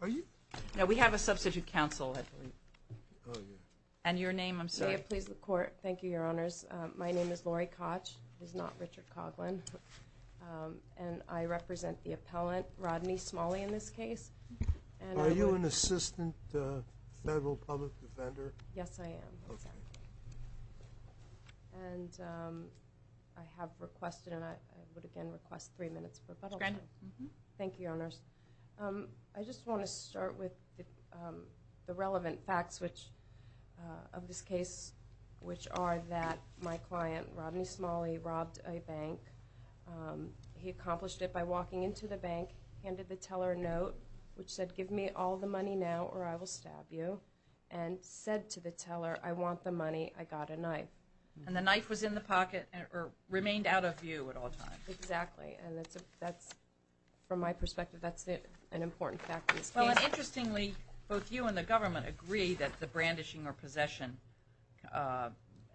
Are you? No, we have a substitute counsel, I believe. Oh, yeah. And your name, I'm sorry. May it please the Court. Thank you, Your Honors. My name is Lori Koch. It is not Richard Coghlan. And I represent the appellant, Rodney Smalley, in this case. Are you an assistant federal public defender? Yes, I am. And I have requested, and I would again request, three minutes for rebuttal. Thank you, Your Honors. I just want to start with the relevant facts of this case, which are that my client, Rodney Smalley, robbed a bank. He accomplished it by walking into the bank, handed the teller a note, which said, give me all the money now or I will stab you, and said to the teller, I want the money, I got a knife. And the knife was in the pocket or remained out of view at all times. Exactly. And that's, from my perspective, that's an important fact of this case. Well, interestingly, both you and the government agree that the brandishing or possession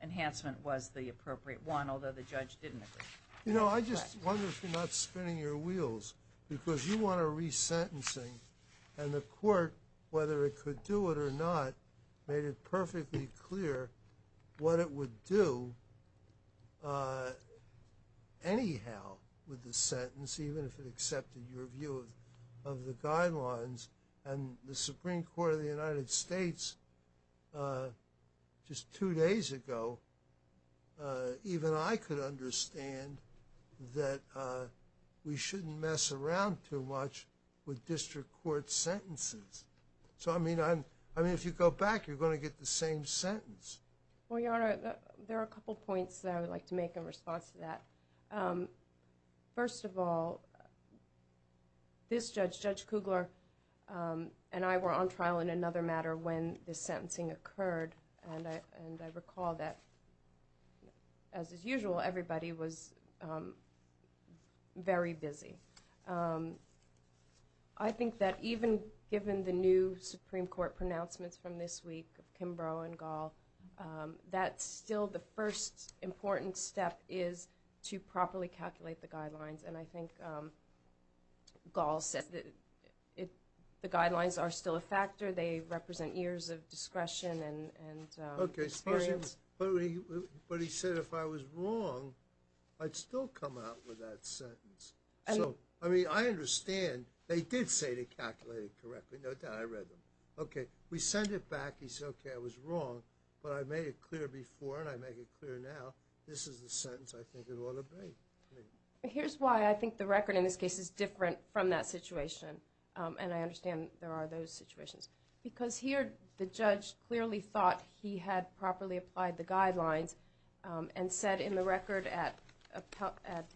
enhancement was the appropriate one, although the judge didn't agree. You know, I just wonder if you're not spinning your wheels, because you want a resentencing, and the court, whether it could do it or not, made it perfectly clear what it would do anyhow with the sentence, even if it accepted your view of the guidelines. And the Supreme Court of the United States, just two days ago, even I could understand that we shouldn't mess around too much with district court sentences. So, I mean, if you go back, you're going to get the same sentence. Well, Your Honor, there are a couple points that I would like to make in response to that. First of all, this judge, Judge Kugler, and I were on trial in another matter when this sentencing occurred, and I recall that, as is usual, everybody was very busy. I think that even given the new Supreme Court pronouncements from this week, Kimbrough and Gall, that still the first important step is to properly calculate the guidelines, and I think Gall said that the guidelines are still a factor. They represent years of discretion and experience. But he said if I was wrong, I'd still come out with that sentence. So, I mean, I understand. They did say to calculate it correctly. No doubt, I read them. Okay, we send it back. He said, okay, I was wrong, but I made it clear before and I make it clear now. This is the sentence I think it ought to be. Here's why I think the record in this case is different from that situation, and I understand there are those situations, because here the judge clearly thought he had properly applied the guidelines and said in the record at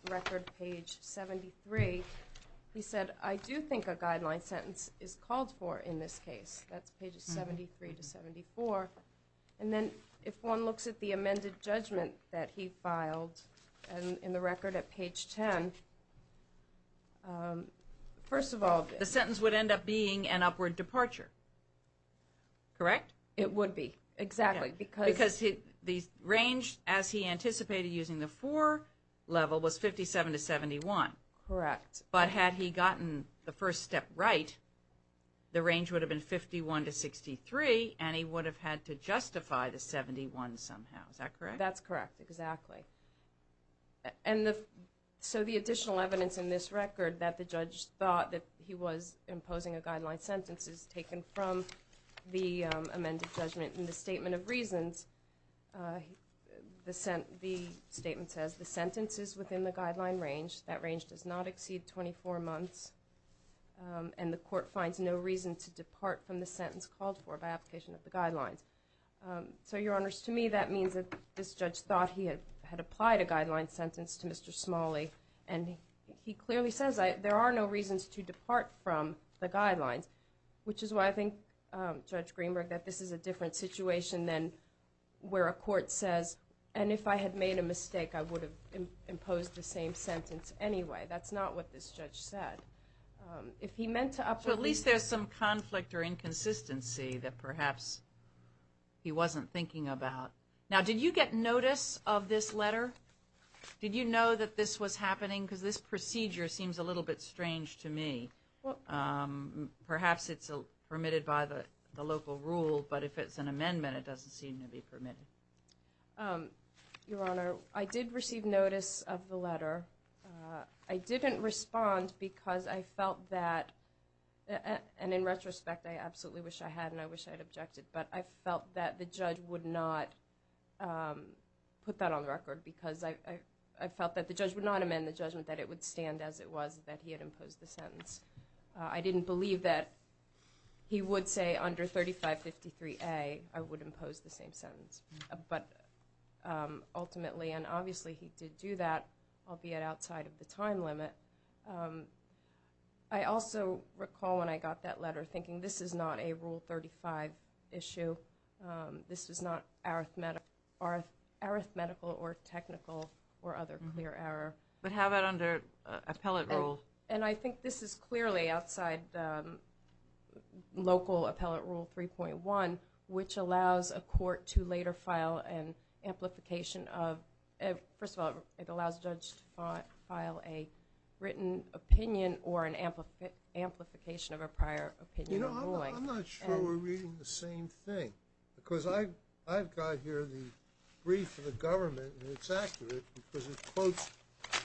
record page 73, he said, I do think a guideline sentence is called for in this case. That's pages 73 to 74. And then if one looks at the amended judgment that he filed in the record at page 10, first of all. The sentence would end up being an upward departure, correct? It would be, exactly. Because the range as he anticipated using the four level was 57 to 71. Correct. But had he gotten the first step right, the range would have been 51 to 63, and he would have had to justify the 71 somehow. Is that correct? That's correct, exactly. And so the additional evidence in this record that the judge thought that he was imposing a guideline sentence is taken from the amended judgment in the statement of reasons. The statement says the sentence is within the guideline range. That range does not exceed 24 months, and the court finds no reason to depart from the sentence called for by application of the guidelines. So, Your Honors, to me that means that this judge thought he had applied a guideline sentence to Mr. Smalley, and he clearly says there are no reasons to depart from the guidelines, which is why I think, Judge Greenberg, that this is a different situation than where a court says, and if I had made a mistake, I would have imposed the same sentence anyway. That's not what this judge said. So at least there's some conflict or inconsistency that perhaps he wasn't thinking about. Now, did you get notice of this letter? Did you know that this was happening? Because this procedure seems a little bit strange to me. Perhaps it's permitted by the local rule, but if it's an amendment, it doesn't seem to be permitted. Your Honor, I did receive notice of the letter. I didn't respond because I felt that, and in retrospect, I absolutely wish I had, and I wish I had objected, but I felt that the judge would not put that on the record because I felt that the judge would not amend the judgment that it would stand as it was that he had imposed the sentence. I didn't believe that he would say under 3553A I would impose the same sentence, but ultimately and obviously he did do that, albeit outside of the time limit. I also recall when I got that letter thinking this is not a Rule 35 issue. This is not arithmetical or technical or other clear error. But how about under appellate rule? And I think this is clearly outside local appellate rule 3.1, which allows a court to later file an amplification of— first of all, it allows a judge to file a written opinion or an amplification of a prior opinion ruling. I'm not sure we're reading the same thing because I've got here the brief of the government, and it's accurate because it quotes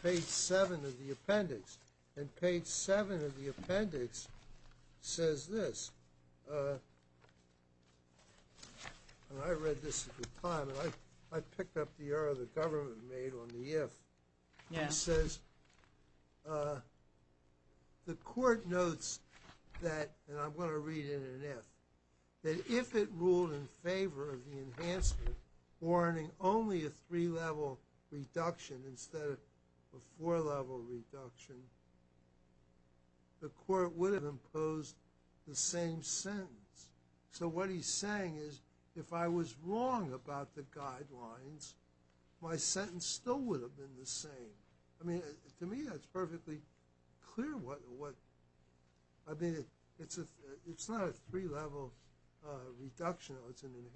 page 7 of the appendix. And page 7 of the appendix says this, and I read this at the time, and I picked up the error the government made on the if. It says the court notes that—and I'm going to read it in an if— that if it ruled in favor of the enhancement warranting only a three-level reduction instead of a four-level reduction, the court would have imposed the same sentence. So what he's saying is if I was wrong about the guidelines, my sentence still would have been the same. I mean, to me that's perfectly clear what—I mean, it's not a three-level reduction. It's an enhancement.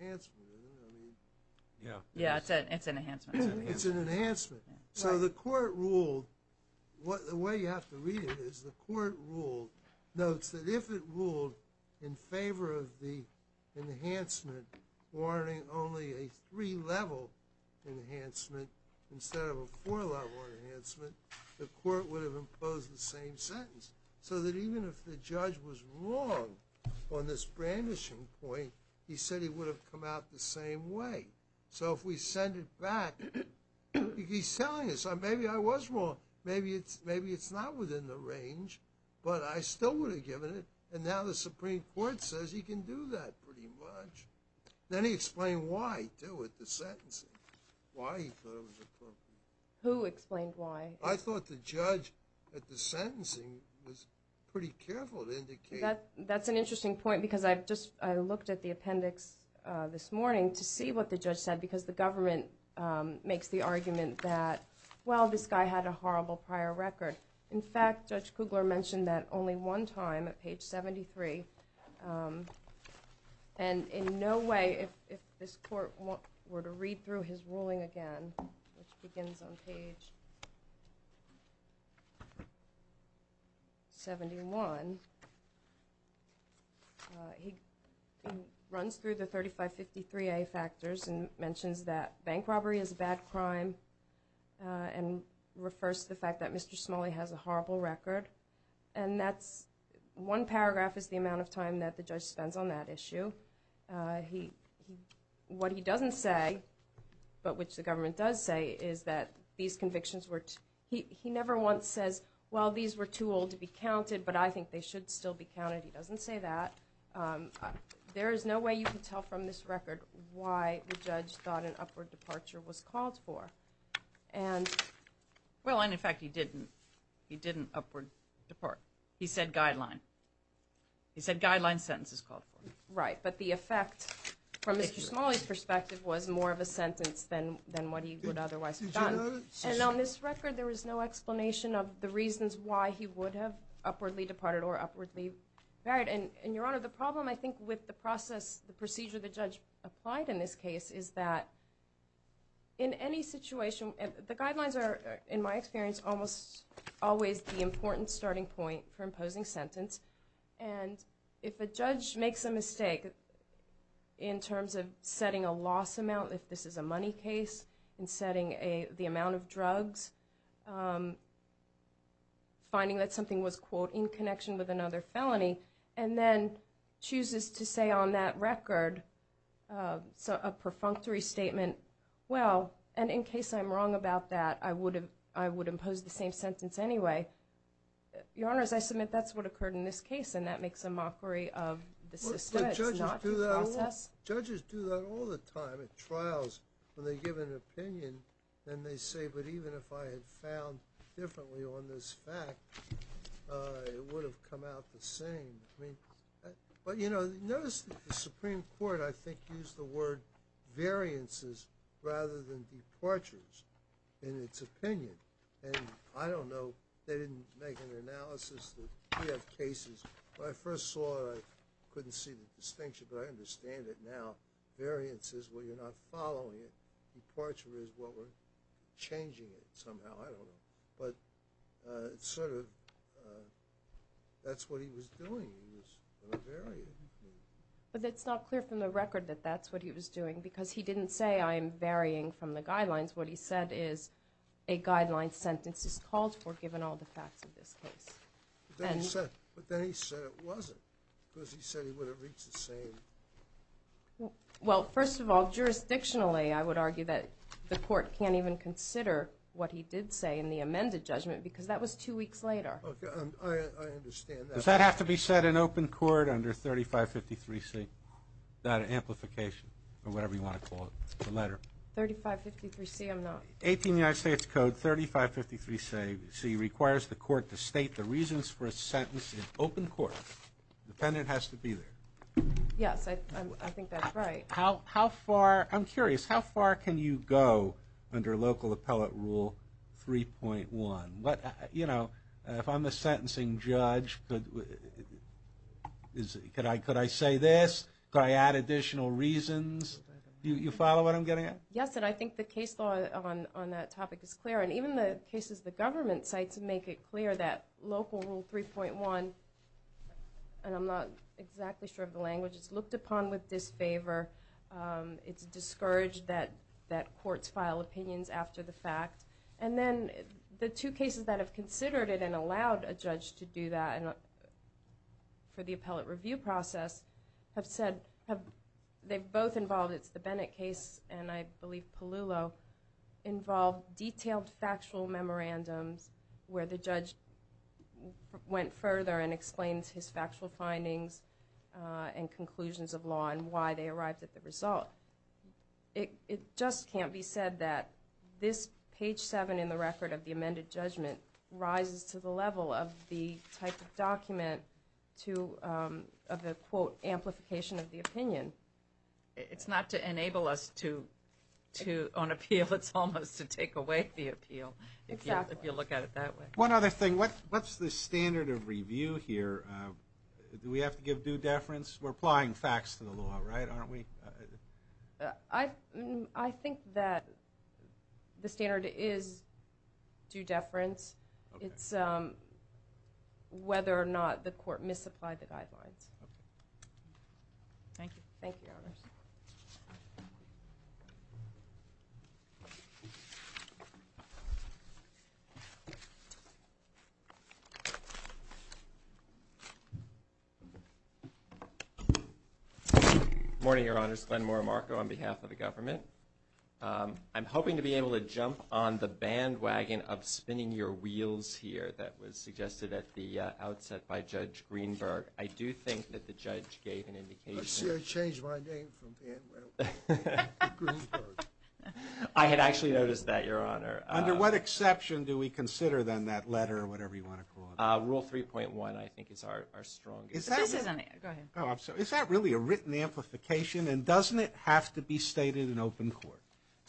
Yeah, it's an enhancement. It's an enhancement. So the court ruled—the way you have to read it is the court ruled— that if it ruled in favor of the enhancement warranting only a three-level enhancement instead of a four-level enhancement, the court would have imposed the same sentence. So that even if the judge was wrong on this brandishing point, he said he would have come out the same way. So if we send it back—he's telling us, maybe I was wrong. Maybe it's not within the range, but I still would have given it. And now the Supreme Court says he can do that pretty much. Then he explained why, too, with the sentencing, why he thought it was appropriate. Who explained why? I thought the judge at the sentencing was pretty careful to indicate— That's an interesting point because I looked at the appendix this morning to see what the judge said because the government makes the argument that, well, this guy had a horrible prior record. In fact, Judge Kugler mentioned that only one time at page 73. And in no way, if this court were to read through his ruling again, which begins on page 71, he runs through the 3553A factors and mentions that bank robbery is a bad crime and refers to the fact that Mr. Smalley has a horrible record. And that's—one paragraph is the amount of time that the judge spends on that issue. What he doesn't say, but which the government does say, is that these convictions were— he never once says, well, these were too old to be counted, but I think they should still be counted. He doesn't say that. There is no way you can tell from this record why the judge thought an upward departure was called for. And— Well, and in fact, he didn't. He didn't upward depart. He said guideline. He said guideline sentence is called for. Right, but the effect, from Mr. Smalley's perspective, was more of a sentence than what he would otherwise have done. And on this record, there is no explanation of the reasons why he would have upwardly departed or upwardly buried. And, Your Honor, the problem, I think, with the process, the procedure the judge applied in this case, is that in any situation—the guidelines are, in my experience, almost always the important starting point for imposing sentence. And if a judge makes a mistake in terms of setting a loss amount, if this is a money case, in setting the amount of drugs, finding that something was, quote, in connection with another felony, and then chooses to say on that record a perfunctory statement, well, and in case I'm wrong about that, I would impose the same sentence anyway. Your Honor, as I submit, that's what occurred in this case, and that makes a mockery of the system. It's not due process. Judges do that all the time at trials when they give an opinion, and they say, but even if I had found differently on this fact, it would have come out the same. But, you know, notice the Supreme Court, I think, used the word variances rather than departures in its opinion. And I don't know. They didn't make an analysis. We have cases. When I first saw it, I couldn't see the distinction, but I understand it now. Variances, well, you're not following it. Departure is what we're changing it somehow. I don't know. But it's sort of that's what he was doing. He was on a variant. But it's not clear from the record that that's what he was doing because he didn't say I'm varying from the guidelines. What he said is a guideline sentence is called for given all the facts of this case. But then he said it wasn't because he said he would have reached the same. Well, first of all, jurisdictionally, I would argue that the court can't even consider what he did say in the amended judgment because that was two weeks later. I understand that. Does that have to be said in open court under 3553C, that amplification, or whatever you want to call it, the letter? 3553C, I'm not. 18 United States Code 3553C requires the court to state the reasons for a sentence in open court. The defendant has to be there. Yes, I think that's right. How far, I'm curious, how far can you go under local appellate rule 3.1? You know, if I'm a sentencing judge, could I say this? Could I add additional reasons? Do you follow what I'm getting at? Yes, and I think the case law on that topic is clear. And even the cases the government cites make it clear that local rule 3.1, and I'm not exactly sure of the language, it's looked upon with disfavor. It's discouraged that courts file opinions after the fact. And then the two cases that have considered it and allowed a judge to do that for the appellate review process have said, they've both involved, it's the Bennett case and I believe Palullo, involved detailed factual memorandums where the judge went further and explained his factual findings and conclusions of law and why they arrived at the result. It just can't be said that this page 7 in the record of the amended judgment rises to the level of the type of document of the, quote, amplification of the opinion. It's not to enable us to, on appeal, it's almost to take away the appeal, if you look at it that way. One other thing, what's the standard of review here? Do we have to give due deference? We're applying facts to the law, right, aren't we? I think that the standard is due deference. It's whether or not the court misapplied the guidelines. Thank you. Thank you, Your Honors. Good morning, Your Honors. Glen Moore, Marco, on behalf of the government. I'm hoping to be able to jump on the bandwagon of spinning your wheels here that was suggested at the outset by Judge Greenberg. I do think that the judge gave an indication. I changed my name from bandwagon to Greenberg. I had actually noticed that, Your Honor. Under what exception do we consider, then, that letter or whatever you want to call it? Rule 3.1, I think, is our strongest. Go ahead. Is that really a written amplification, and doesn't it have to be stated in open court?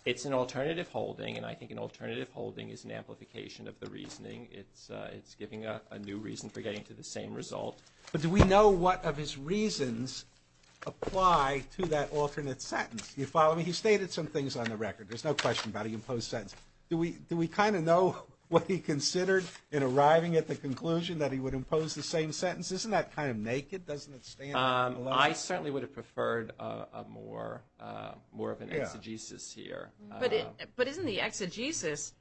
It's an alternative holding, and I think an alternative holding is an amplification of the reasoning. It's giving a new reason for getting to the same result. But do we know what of his reasons apply to that alternate sentence? Do you follow me? He stated some things on the record. There's no question about an imposed sentence. Do we kind of know what he considered in arriving at the conclusion that he would impose the same sentence? Isn't that kind of naked? Doesn't it stand out? I certainly would have preferred more of an exegesis here. But isn't the exegesis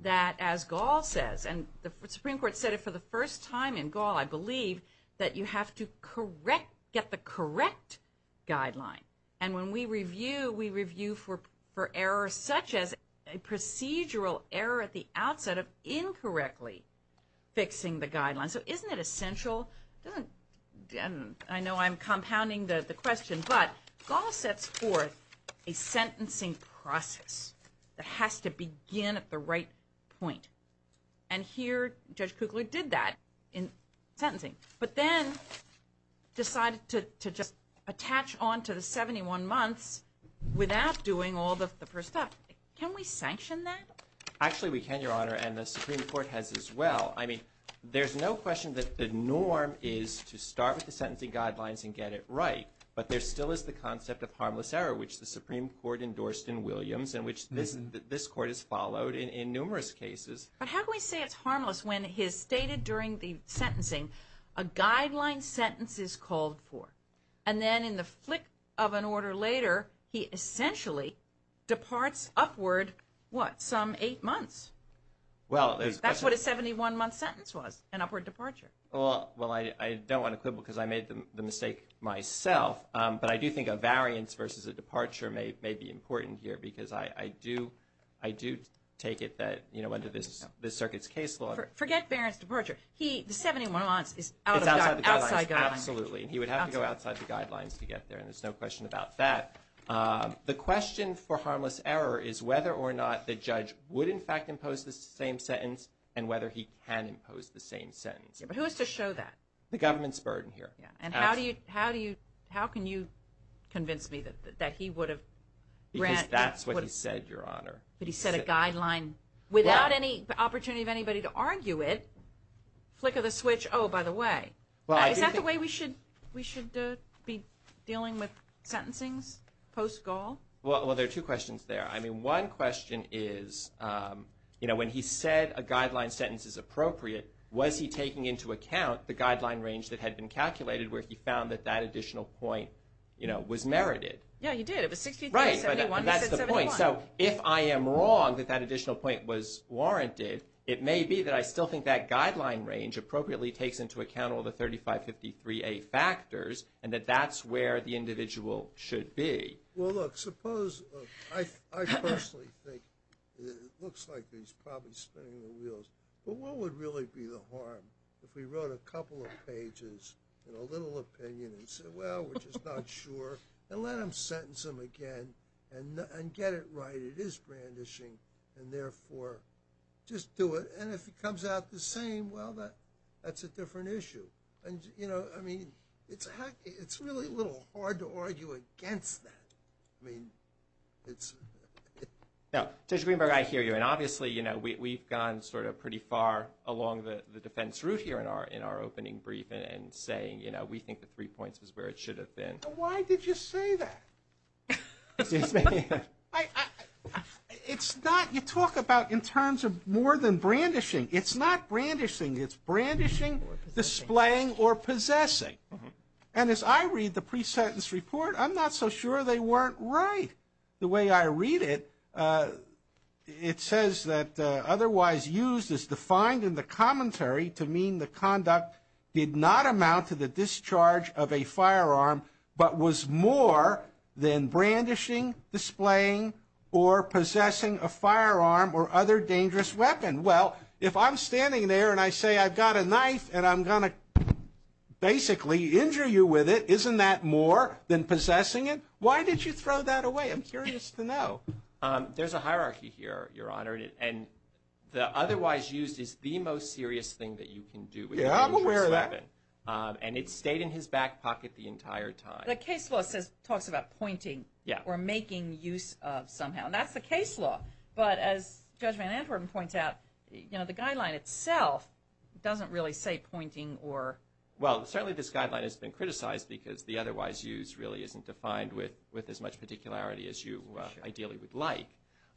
that, as Gall says, and the Supreme Court said it for the first time in Gall, I believe, that you have to get the correct guideline. And when we review, we review for errors such as a procedural error at the outset of incorrectly fixing the guideline. So isn't it essential? I know I'm compounding the question, but Gall sets forth a sentencing process that has to begin at the right point. And here Judge Kugler did that in sentencing, but then decided to just attach on to the 71 months without doing all the first steps. Can we sanction that? Actually, we can, Your Honor, and the Supreme Court has as well. I mean, there's no question that the norm is to start with the sentencing guidelines and get it right, but there still is the concept of harmless error, which the Supreme Court endorsed in Williams and which this Court has followed in numerous cases. But how can we say it's harmless when it is stated during the sentencing, a guideline sentence is called for, and then in the flick of an order later, he essentially departs upward, what, some eight months? That's what a 71-month sentence was, an upward departure. Well, I don't want to quibble because I made the mistake myself, but I do think a variance versus a departure may be important here because I do take it that under this circuit's case law. Forget Barron's departure. The 71 months is outside the guidelines. Absolutely, and he would have to go outside the guidelines to get there, and there's no question about that. The question for harmless error is whether or not the judge would in fact impose the same sentence and whether he can impose the same sentence. But who is to show that? The government's burden here. And how can you convince me that he would have? Because that's what he said, Your Honor. But he said a guideline without any opportunity of anybody to argue it. Flick of the switch, oh, by the way. Is that the way we should be dealing with sentencings post-Gaul? Well, there are two questions there. I mean, one question is, you know, when he said a guideline sentence is appropriate, was he taking into account the guideline range that had been calculated where he found that that additional point, you know, was merited? Yeah, he did. It was 63 to 71. Right, but that's the point. So if I am wrong that that additional point was warranted, it may be that I still think that guideline range appropriately takes into account all the 3553A factors and that that's where the individual should be. But what would really be the harm if we wrote a couple of pages in a little opinion and said, well, we're just not sure, and let him sentence him again and get it right. It is brandishing, and therefore just do it. And if it comes out the same, well, that's a different issue. And, you know, I mean, it's really a little hard to argue against that. I mean, it's – No, Judge Greenberg, I hear you. And obviously, you know, we've gone sort of pretty far along the defense route here in our opening brief and saying, you know, we think the three points is where it should have been. Why did you say that? It's not – you talk about in terms of more than brandishing. It's not brandishing. It's brandishing, displaying, or possessing. And as I read the pre-sentence report, I'm not so sure they weren't right. The way I read it, it says that otherwise used as defined in the commentary to mean the conduct did not amount to the discharge of a firearm, but was more than brandishing, displaying, or possessing a firearm or other dangerous weapon. Well, if I'm standing there and I say I've got a knife and I'm going to basically injure you with it, isn't that more than possessing it? Why did you throw that away? I'm curious to know. There's a hierarchy here, Your Honor. And the otherwise used is the most serious thing that you can do with a dangerous weapon. Yeah, I'm aware of that. And it stayed in his back pocket the entire time. The case law talks about pointing or making use of somehow, and that's the case law. But as Judge Van Antwerpen points out, you know, the guideline itself doesn't really say pointing or – well, certainly this guideline has been criticized because the otherwise used really isn't defined with as much particularity as you ideally would like.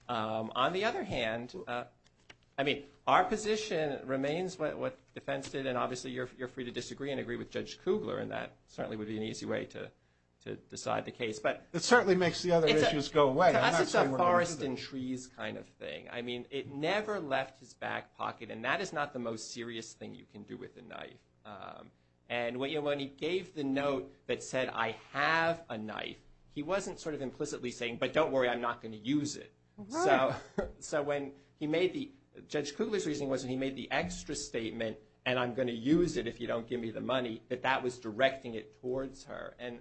On the other hand, I mean, our position remains what defense did, and obviously you're free to disagree and agree with Judge Kugler, and that certainly would be an easy way to decide the case. It certainly makes the other issues go away. To us it's a forest and trees kind of thing. I mean, it never left his back pocket, and that is not the most serious thing you can do with a knife. And when he gave the note that said, I have a knife, he wasn't sort of implicitly saying, but don't worry, I'm not going to use it. So when he made the – Judge Kugler's reasoning was when he made the extra statement, and I'm going to use it if you don't give me the money, that that was directing it towards her. And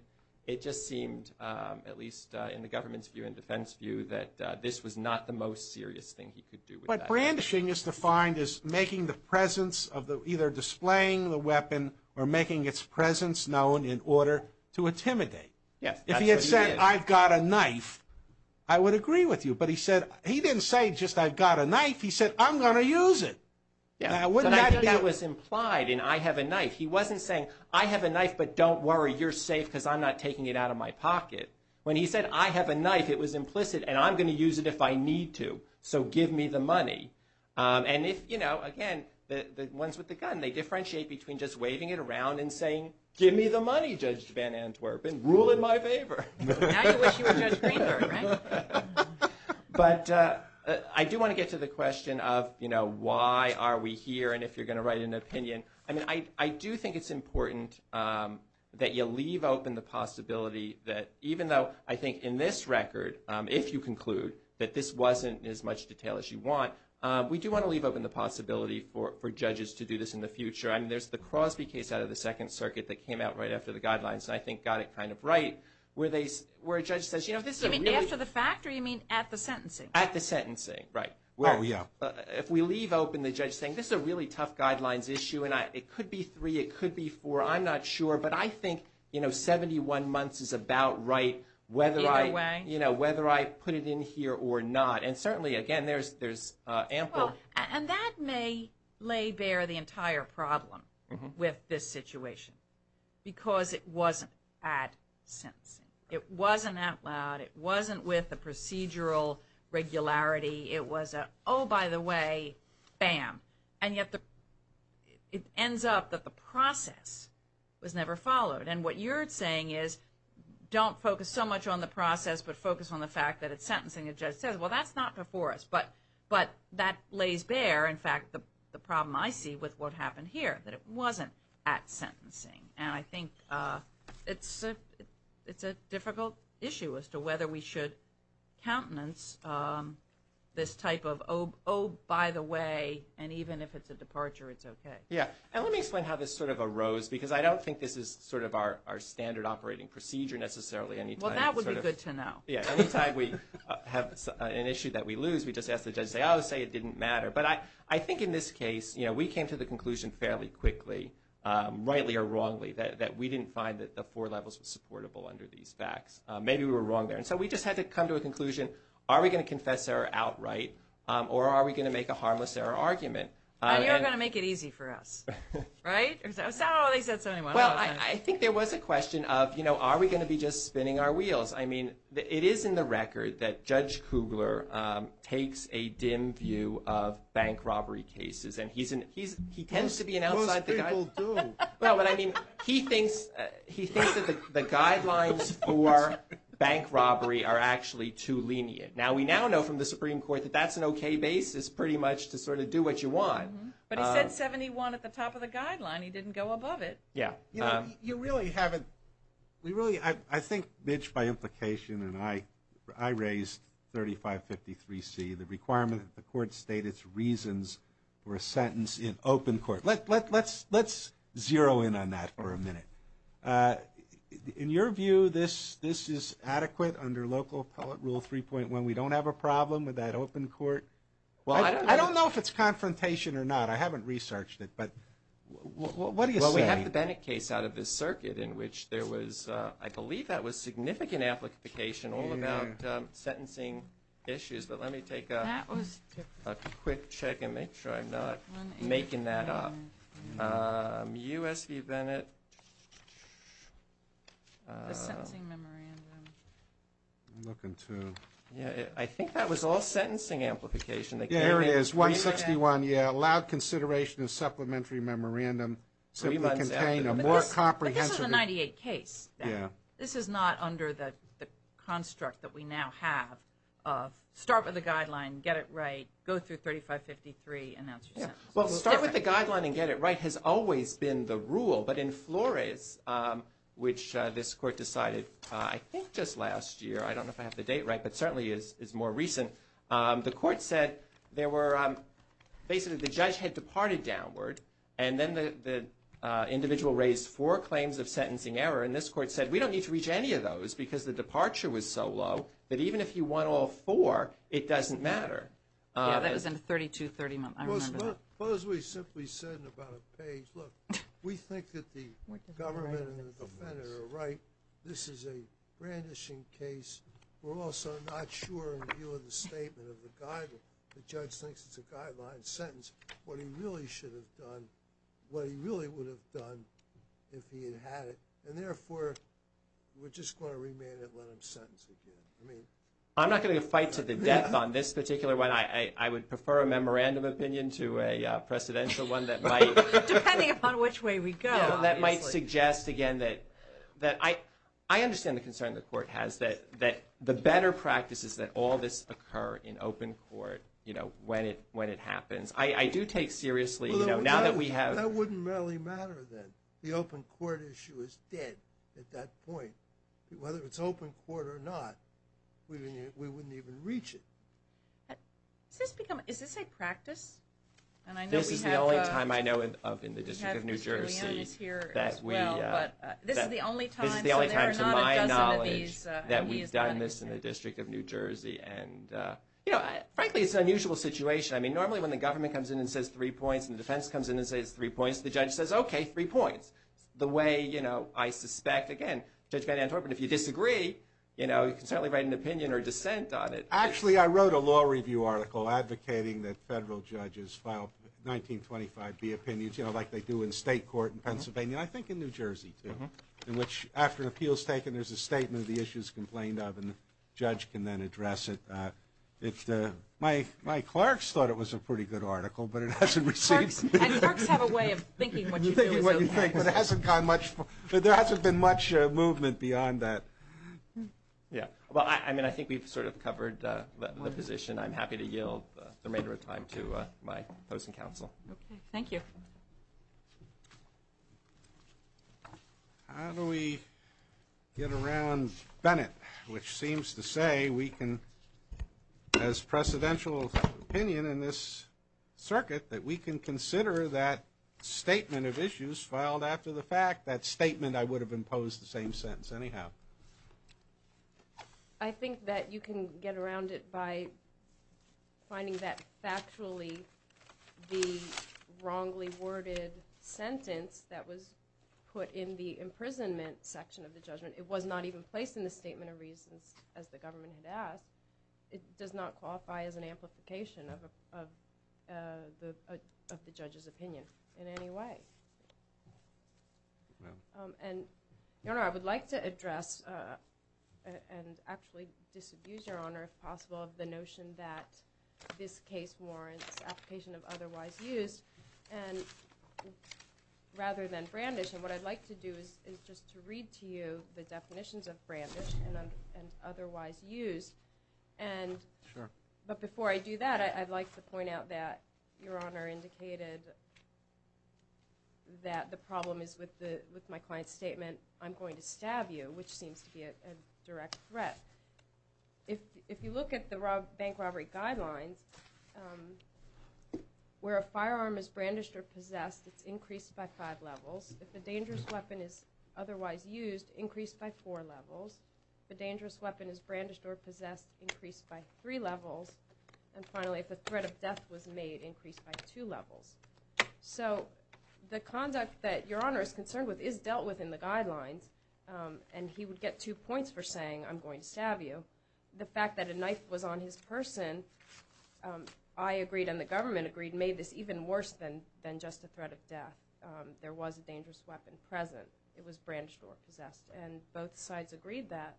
it just seemed, at least in the government's view and defense view, that this was not the most serious thing he could do with a knife. What brandishing is defined as making the presence of the – either displaying the weapon or making its presence known in order to intimidate. Yes, that's what he did. If he had said, I've got a knife, I would agree with you. But he said – he didn't say just, I've got a knife. He said, I'm going to use it. Wouldn't that be – But I think that was implied in I have a knife. He wasn't saying, I have a knife, but don't worry, you're safe because I'm not taking it out of my pocket. When he said, I have a knife, it was implicit, and I'm going to use it if I need to. So give me the money. And if, you know, again, the ones with the gun, they differentiate between just waving it around and saying, give me the money, Judge Van Antwerpen. Rule in my favor. Now you wish you were Judge Greenberg, right? But I do want to get to the question of, you know, why are we here? And if you're going to write an opinion, I mean, I do think it's important that you leave open the possibility that even though I think in this record, if you conclude that this wasn't as much detail as you want, we do want to leave open the possibility for judges to do this in the future. I mean, there's the Crosby case out of the Second Circuit that came out right after the guidelines, and I think got it kind of right, where a judge says, you know, this is really – You mean after the fact or you mean at the sentencing? At the sentencing, right. Oh, yeah. If we leave open the judge saying, this is a really tough guidelines issue, and it could be three, it could be four, I'm not sure. But I think, you know, 71 months is about right whether I put it in here or not. And certainly, again, there's ample – And that may lay bare the entire problem with this situation because it wasn't at sentencing. It wasn't out loud. It wasn't with the procedural regularity. It was a, oh, by the way, bam. And yet it ends up that the process was never followed. And what you're saying is don't focus so much on the process, but focus on the fact that at sentencing a judge says, well, that's not before us. But that lays bare, in fact, the problem I see with what happened here, that it wasn't at sentencing. And I think it's a difficult issue as to whether we should countenance this type of, oh, by the way, and even if it's a departure, it's okay. Yeah. And let me explain how this sort of arose, because I don't think this is sort of our standard operating procedure necessarily. Well, that would be good to know. Yeah. Anytime we have an issue that we lose, we just ask the judge to say, oh, say it didn't matter. But I think in this case, you know, we came to the conclusion fairly quickly, rightly or wrongly, that we didn't find that the four levels were supportable under these facts. Maybe we were wrong there. And so we just had to come to a conclusion, are we going to confess error outright, or are we going to make a harmless error argument? And you're going to make it easy for us, right? It's not always that simple. Well, I think there was a question of, you know, are we going to be just spinning our wheels? I mean, it is in the record that Judge Kugler takes a dim view of bank robbery cases, and he tends to be an outside guy. Most people do. Well, but I mean, he thinks that the guidelines for bank robbery are actually too lenient. Now, we now know from the Supreme Court that that's an okay basis pretty much to sort of do what you want. But he said 71 at the top of the guideline. He didn't go above it. Yeah. You know, you really haven't – we really – I think, Mitch, by implication, and I raised 3553C, the requirement that the court state its reasons for a sentence in open court. Let's zero in on that for a minute. In your view, this is adequate under local appellate rule 3.1? We don't have a problem with that open court? Well, I don't know if it's confrontation or not. I haven't researched it. But what are you saying? Well, we have the Bennett case out of this circuit in which there was – I believe that was significant application all about sentencing issues. But let me take a quick check and make sure I'm not making that up. U.S. v. Bennett. The sentencing memorandum. I'm looking, too. I think that was all sentencing amplification. Yeah, here it is, 161. Yeah, allowed consideration of supplementary memorandum simply contain a more comprehensive – But this is a 98 case. Yeah. This is not under the construct that we now have of start with a guideline, get it right, go through 3553, and that's your sentence. Well, start with a guideline and get it right has always been the rule. But in Flores, which this court decided I think just last year – I don't know if I have the date right, but certainly is more recent – the court said there were – basically the judge had departed downward, and then the individual raised four claims of sentencing error. And this court said we don't need to reach any of those because the departure was so low that even if he won all four, it doesn't matter. Yeah, that was in the 3230 month. Well, as we simply said in about a page, look, we think that the government and the defendant are right. This is a brandishing case. We're also not sure in view of the statement of the guideline. The judge thinks it's a guideline sentence what he really should have done, what he really would have done if he had had it. And therefore, we're just going to remand it, let him sentence again. I'm not going to fight to the death on this particular one. I would prefer a memorandum opinion to a precedential one that might – Depending upon which way we go. – that might suggest, again, that I understand the concern the court has that the better practice is that all this occur in open court when it happens. I do take seriously now that we have – Well, that wouldn't really matter then. The open court issue is dead at that point. Whether it's open court or not, we wouldn't even reach it. Is this a practice? This is the only time I know of in the District of New Jersey that we – This is the only time, to my knowledge, that we've done this in the District of New Jersey. Frankly, it's an unusual situation. I mean, normally when the government comes in and says three points and the defense comes in and says three points, the judge says, okay, three points. The way I suspect, again, Judge Van Antorp and if you disagree, you can certainly write an opinion or dissent on it. Actually, I wrote a law review article advocating that federal judges file 1925B opinions, like they do in state court in Pennsylvania, and I think in New Jersey too, in which after an appeal is taken, there's a statement of the issues complained of and the judge can then address it. My clerks thought it was a pretty good article, but it hasn't received – And clerks have a way of thinking what you feel is okay. But it hasn't gotten much – there hasn't been much movement beyond that. Yeah. Well, I mean, I think we've sort of covered the position. I'm happy to yield the remainder of time to my opposing counsel. Okay. Thank you. How do we get around Bennett, which seems to say we can, as precedential opinion in this circuit, that we can consider that statement of issues filed after the fact, that statement I would have imposed the same sentence anyhow? I think that you can get around it by finding that factually the wrongly worded sentence that was put in the imprisonment section of the judgment, it was not even placed in the statement of reasons as the government had asked. It does not qualify as an amplification of the judge's opinion in any way. And, Your Honor, I would like to address and actually disabuse Your Honor, if possible, of the notion that this case warrants application of otherwise used rather than brandish. And what I'd like to do is just to read to you the definitions of brandish and otherwise used. Sure. But before I do that, I'd like to point out that Your Honor indicated that the problem is with my client's statement, I'm going to stab you, which seems to be a direct threat. If you look at the bank robbery guidelines, where a firearm is brandished or possessed, it's increased by five levels. If a dangerous weapon is otherwise used, increased by four levels. If a dangerous weapon is brandished or possessed, increased by three levels. And finally, if a threat of death was made, increased by two levels. So the conduct that Your Honor is concerned with is dealt with in the guidelines, and he would get two points for saying, I'm going to stab you. The fact that a knife was on his person, I agreed and the government agreed, made this even worse than just a threat of death. There was a dangerous weapon present. It was brandished or possessed. And both sides agreed that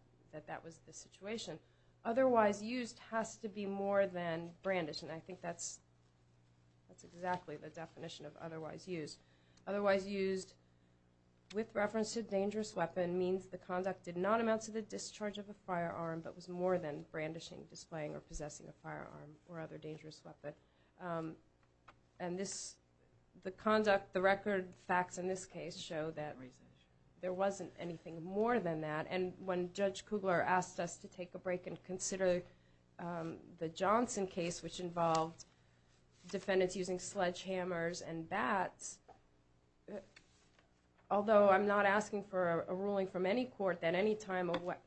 that was the situation. Otherwise used has to be more than brandished, and I think that's exactly the definition of otherwise used. Otherwise used with reference to a dangerous weapon means the conduct did not amount to the discharge of a firearm, but was more than brandishing, displaying, or possessing a firearm or other dangerous weapon. And the record facts in this case show that there wasn't anything more than that. And when Judge Kugler asked us to take a break and consider the Johnson case, which involved defendants using sledgehammers and bats, although I'm not asking for a ruling from any court that any time of what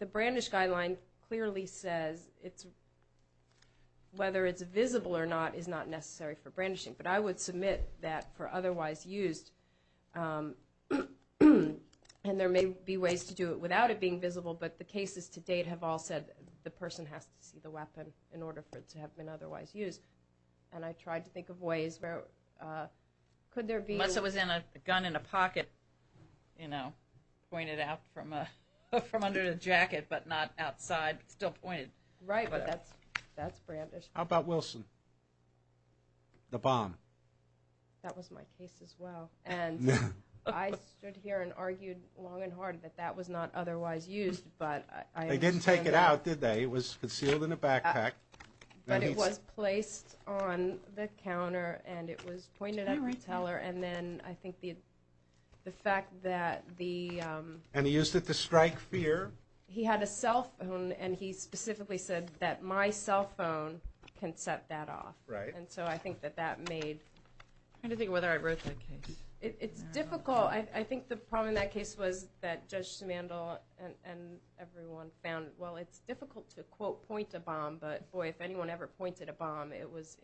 the brandish guideline clearly says, whether it's visible or not is not necessary for brandishing. But I would submit that for otherwise used, and there may be ways to do it without it being visible, but the cases to date have all said the person has to see the weapon in order for it to have been otherwise used. And I tried to think of ways where could there be... Unless it was a gun in a pocket, you know, pointed out from under the jacket, but not outside, still pointed. Right, but that's brandish. How about Wilson, the bomb? That was my case as well. And I stood here and argued long and hard that that was not otherwise used, but... They didn't take it out, did they? It was concealed in a backpack. But it was placed on the counter, and it was pointed at the teller, and then I think the fact that the... And he used it to strike fear. He had a cell phone, and he specifically said that my cell phone can set that off. And so I think that that made... I'm trying to think whether I wrote that case. It's difficult. I think the problem in that case was that Judge Simandl and everyone found, well, it's difficult to, quote, point a bomb, but, boy, if anyone ever pointed a bomb, it was...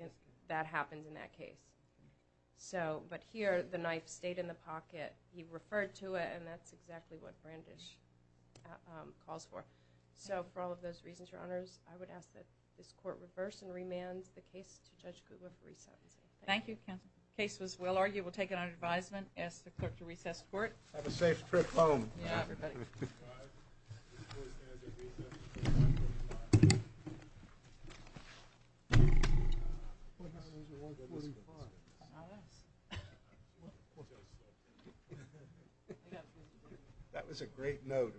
That happened in that case. So, but here, the knife stayed in the pocket. He referred to it, and that's exactly what brandish calls for. So for all of those reasons, Your Honors, I would ask that this court reverse and remand the case to Judge Kugler for recess. Thank you, counsel. Case was well argued. We'll take it under advisement. Ask the clerk to recess the court. Have a safe trip home. Yeah, everybody. This court stands at recess. That was a great note. Thank you.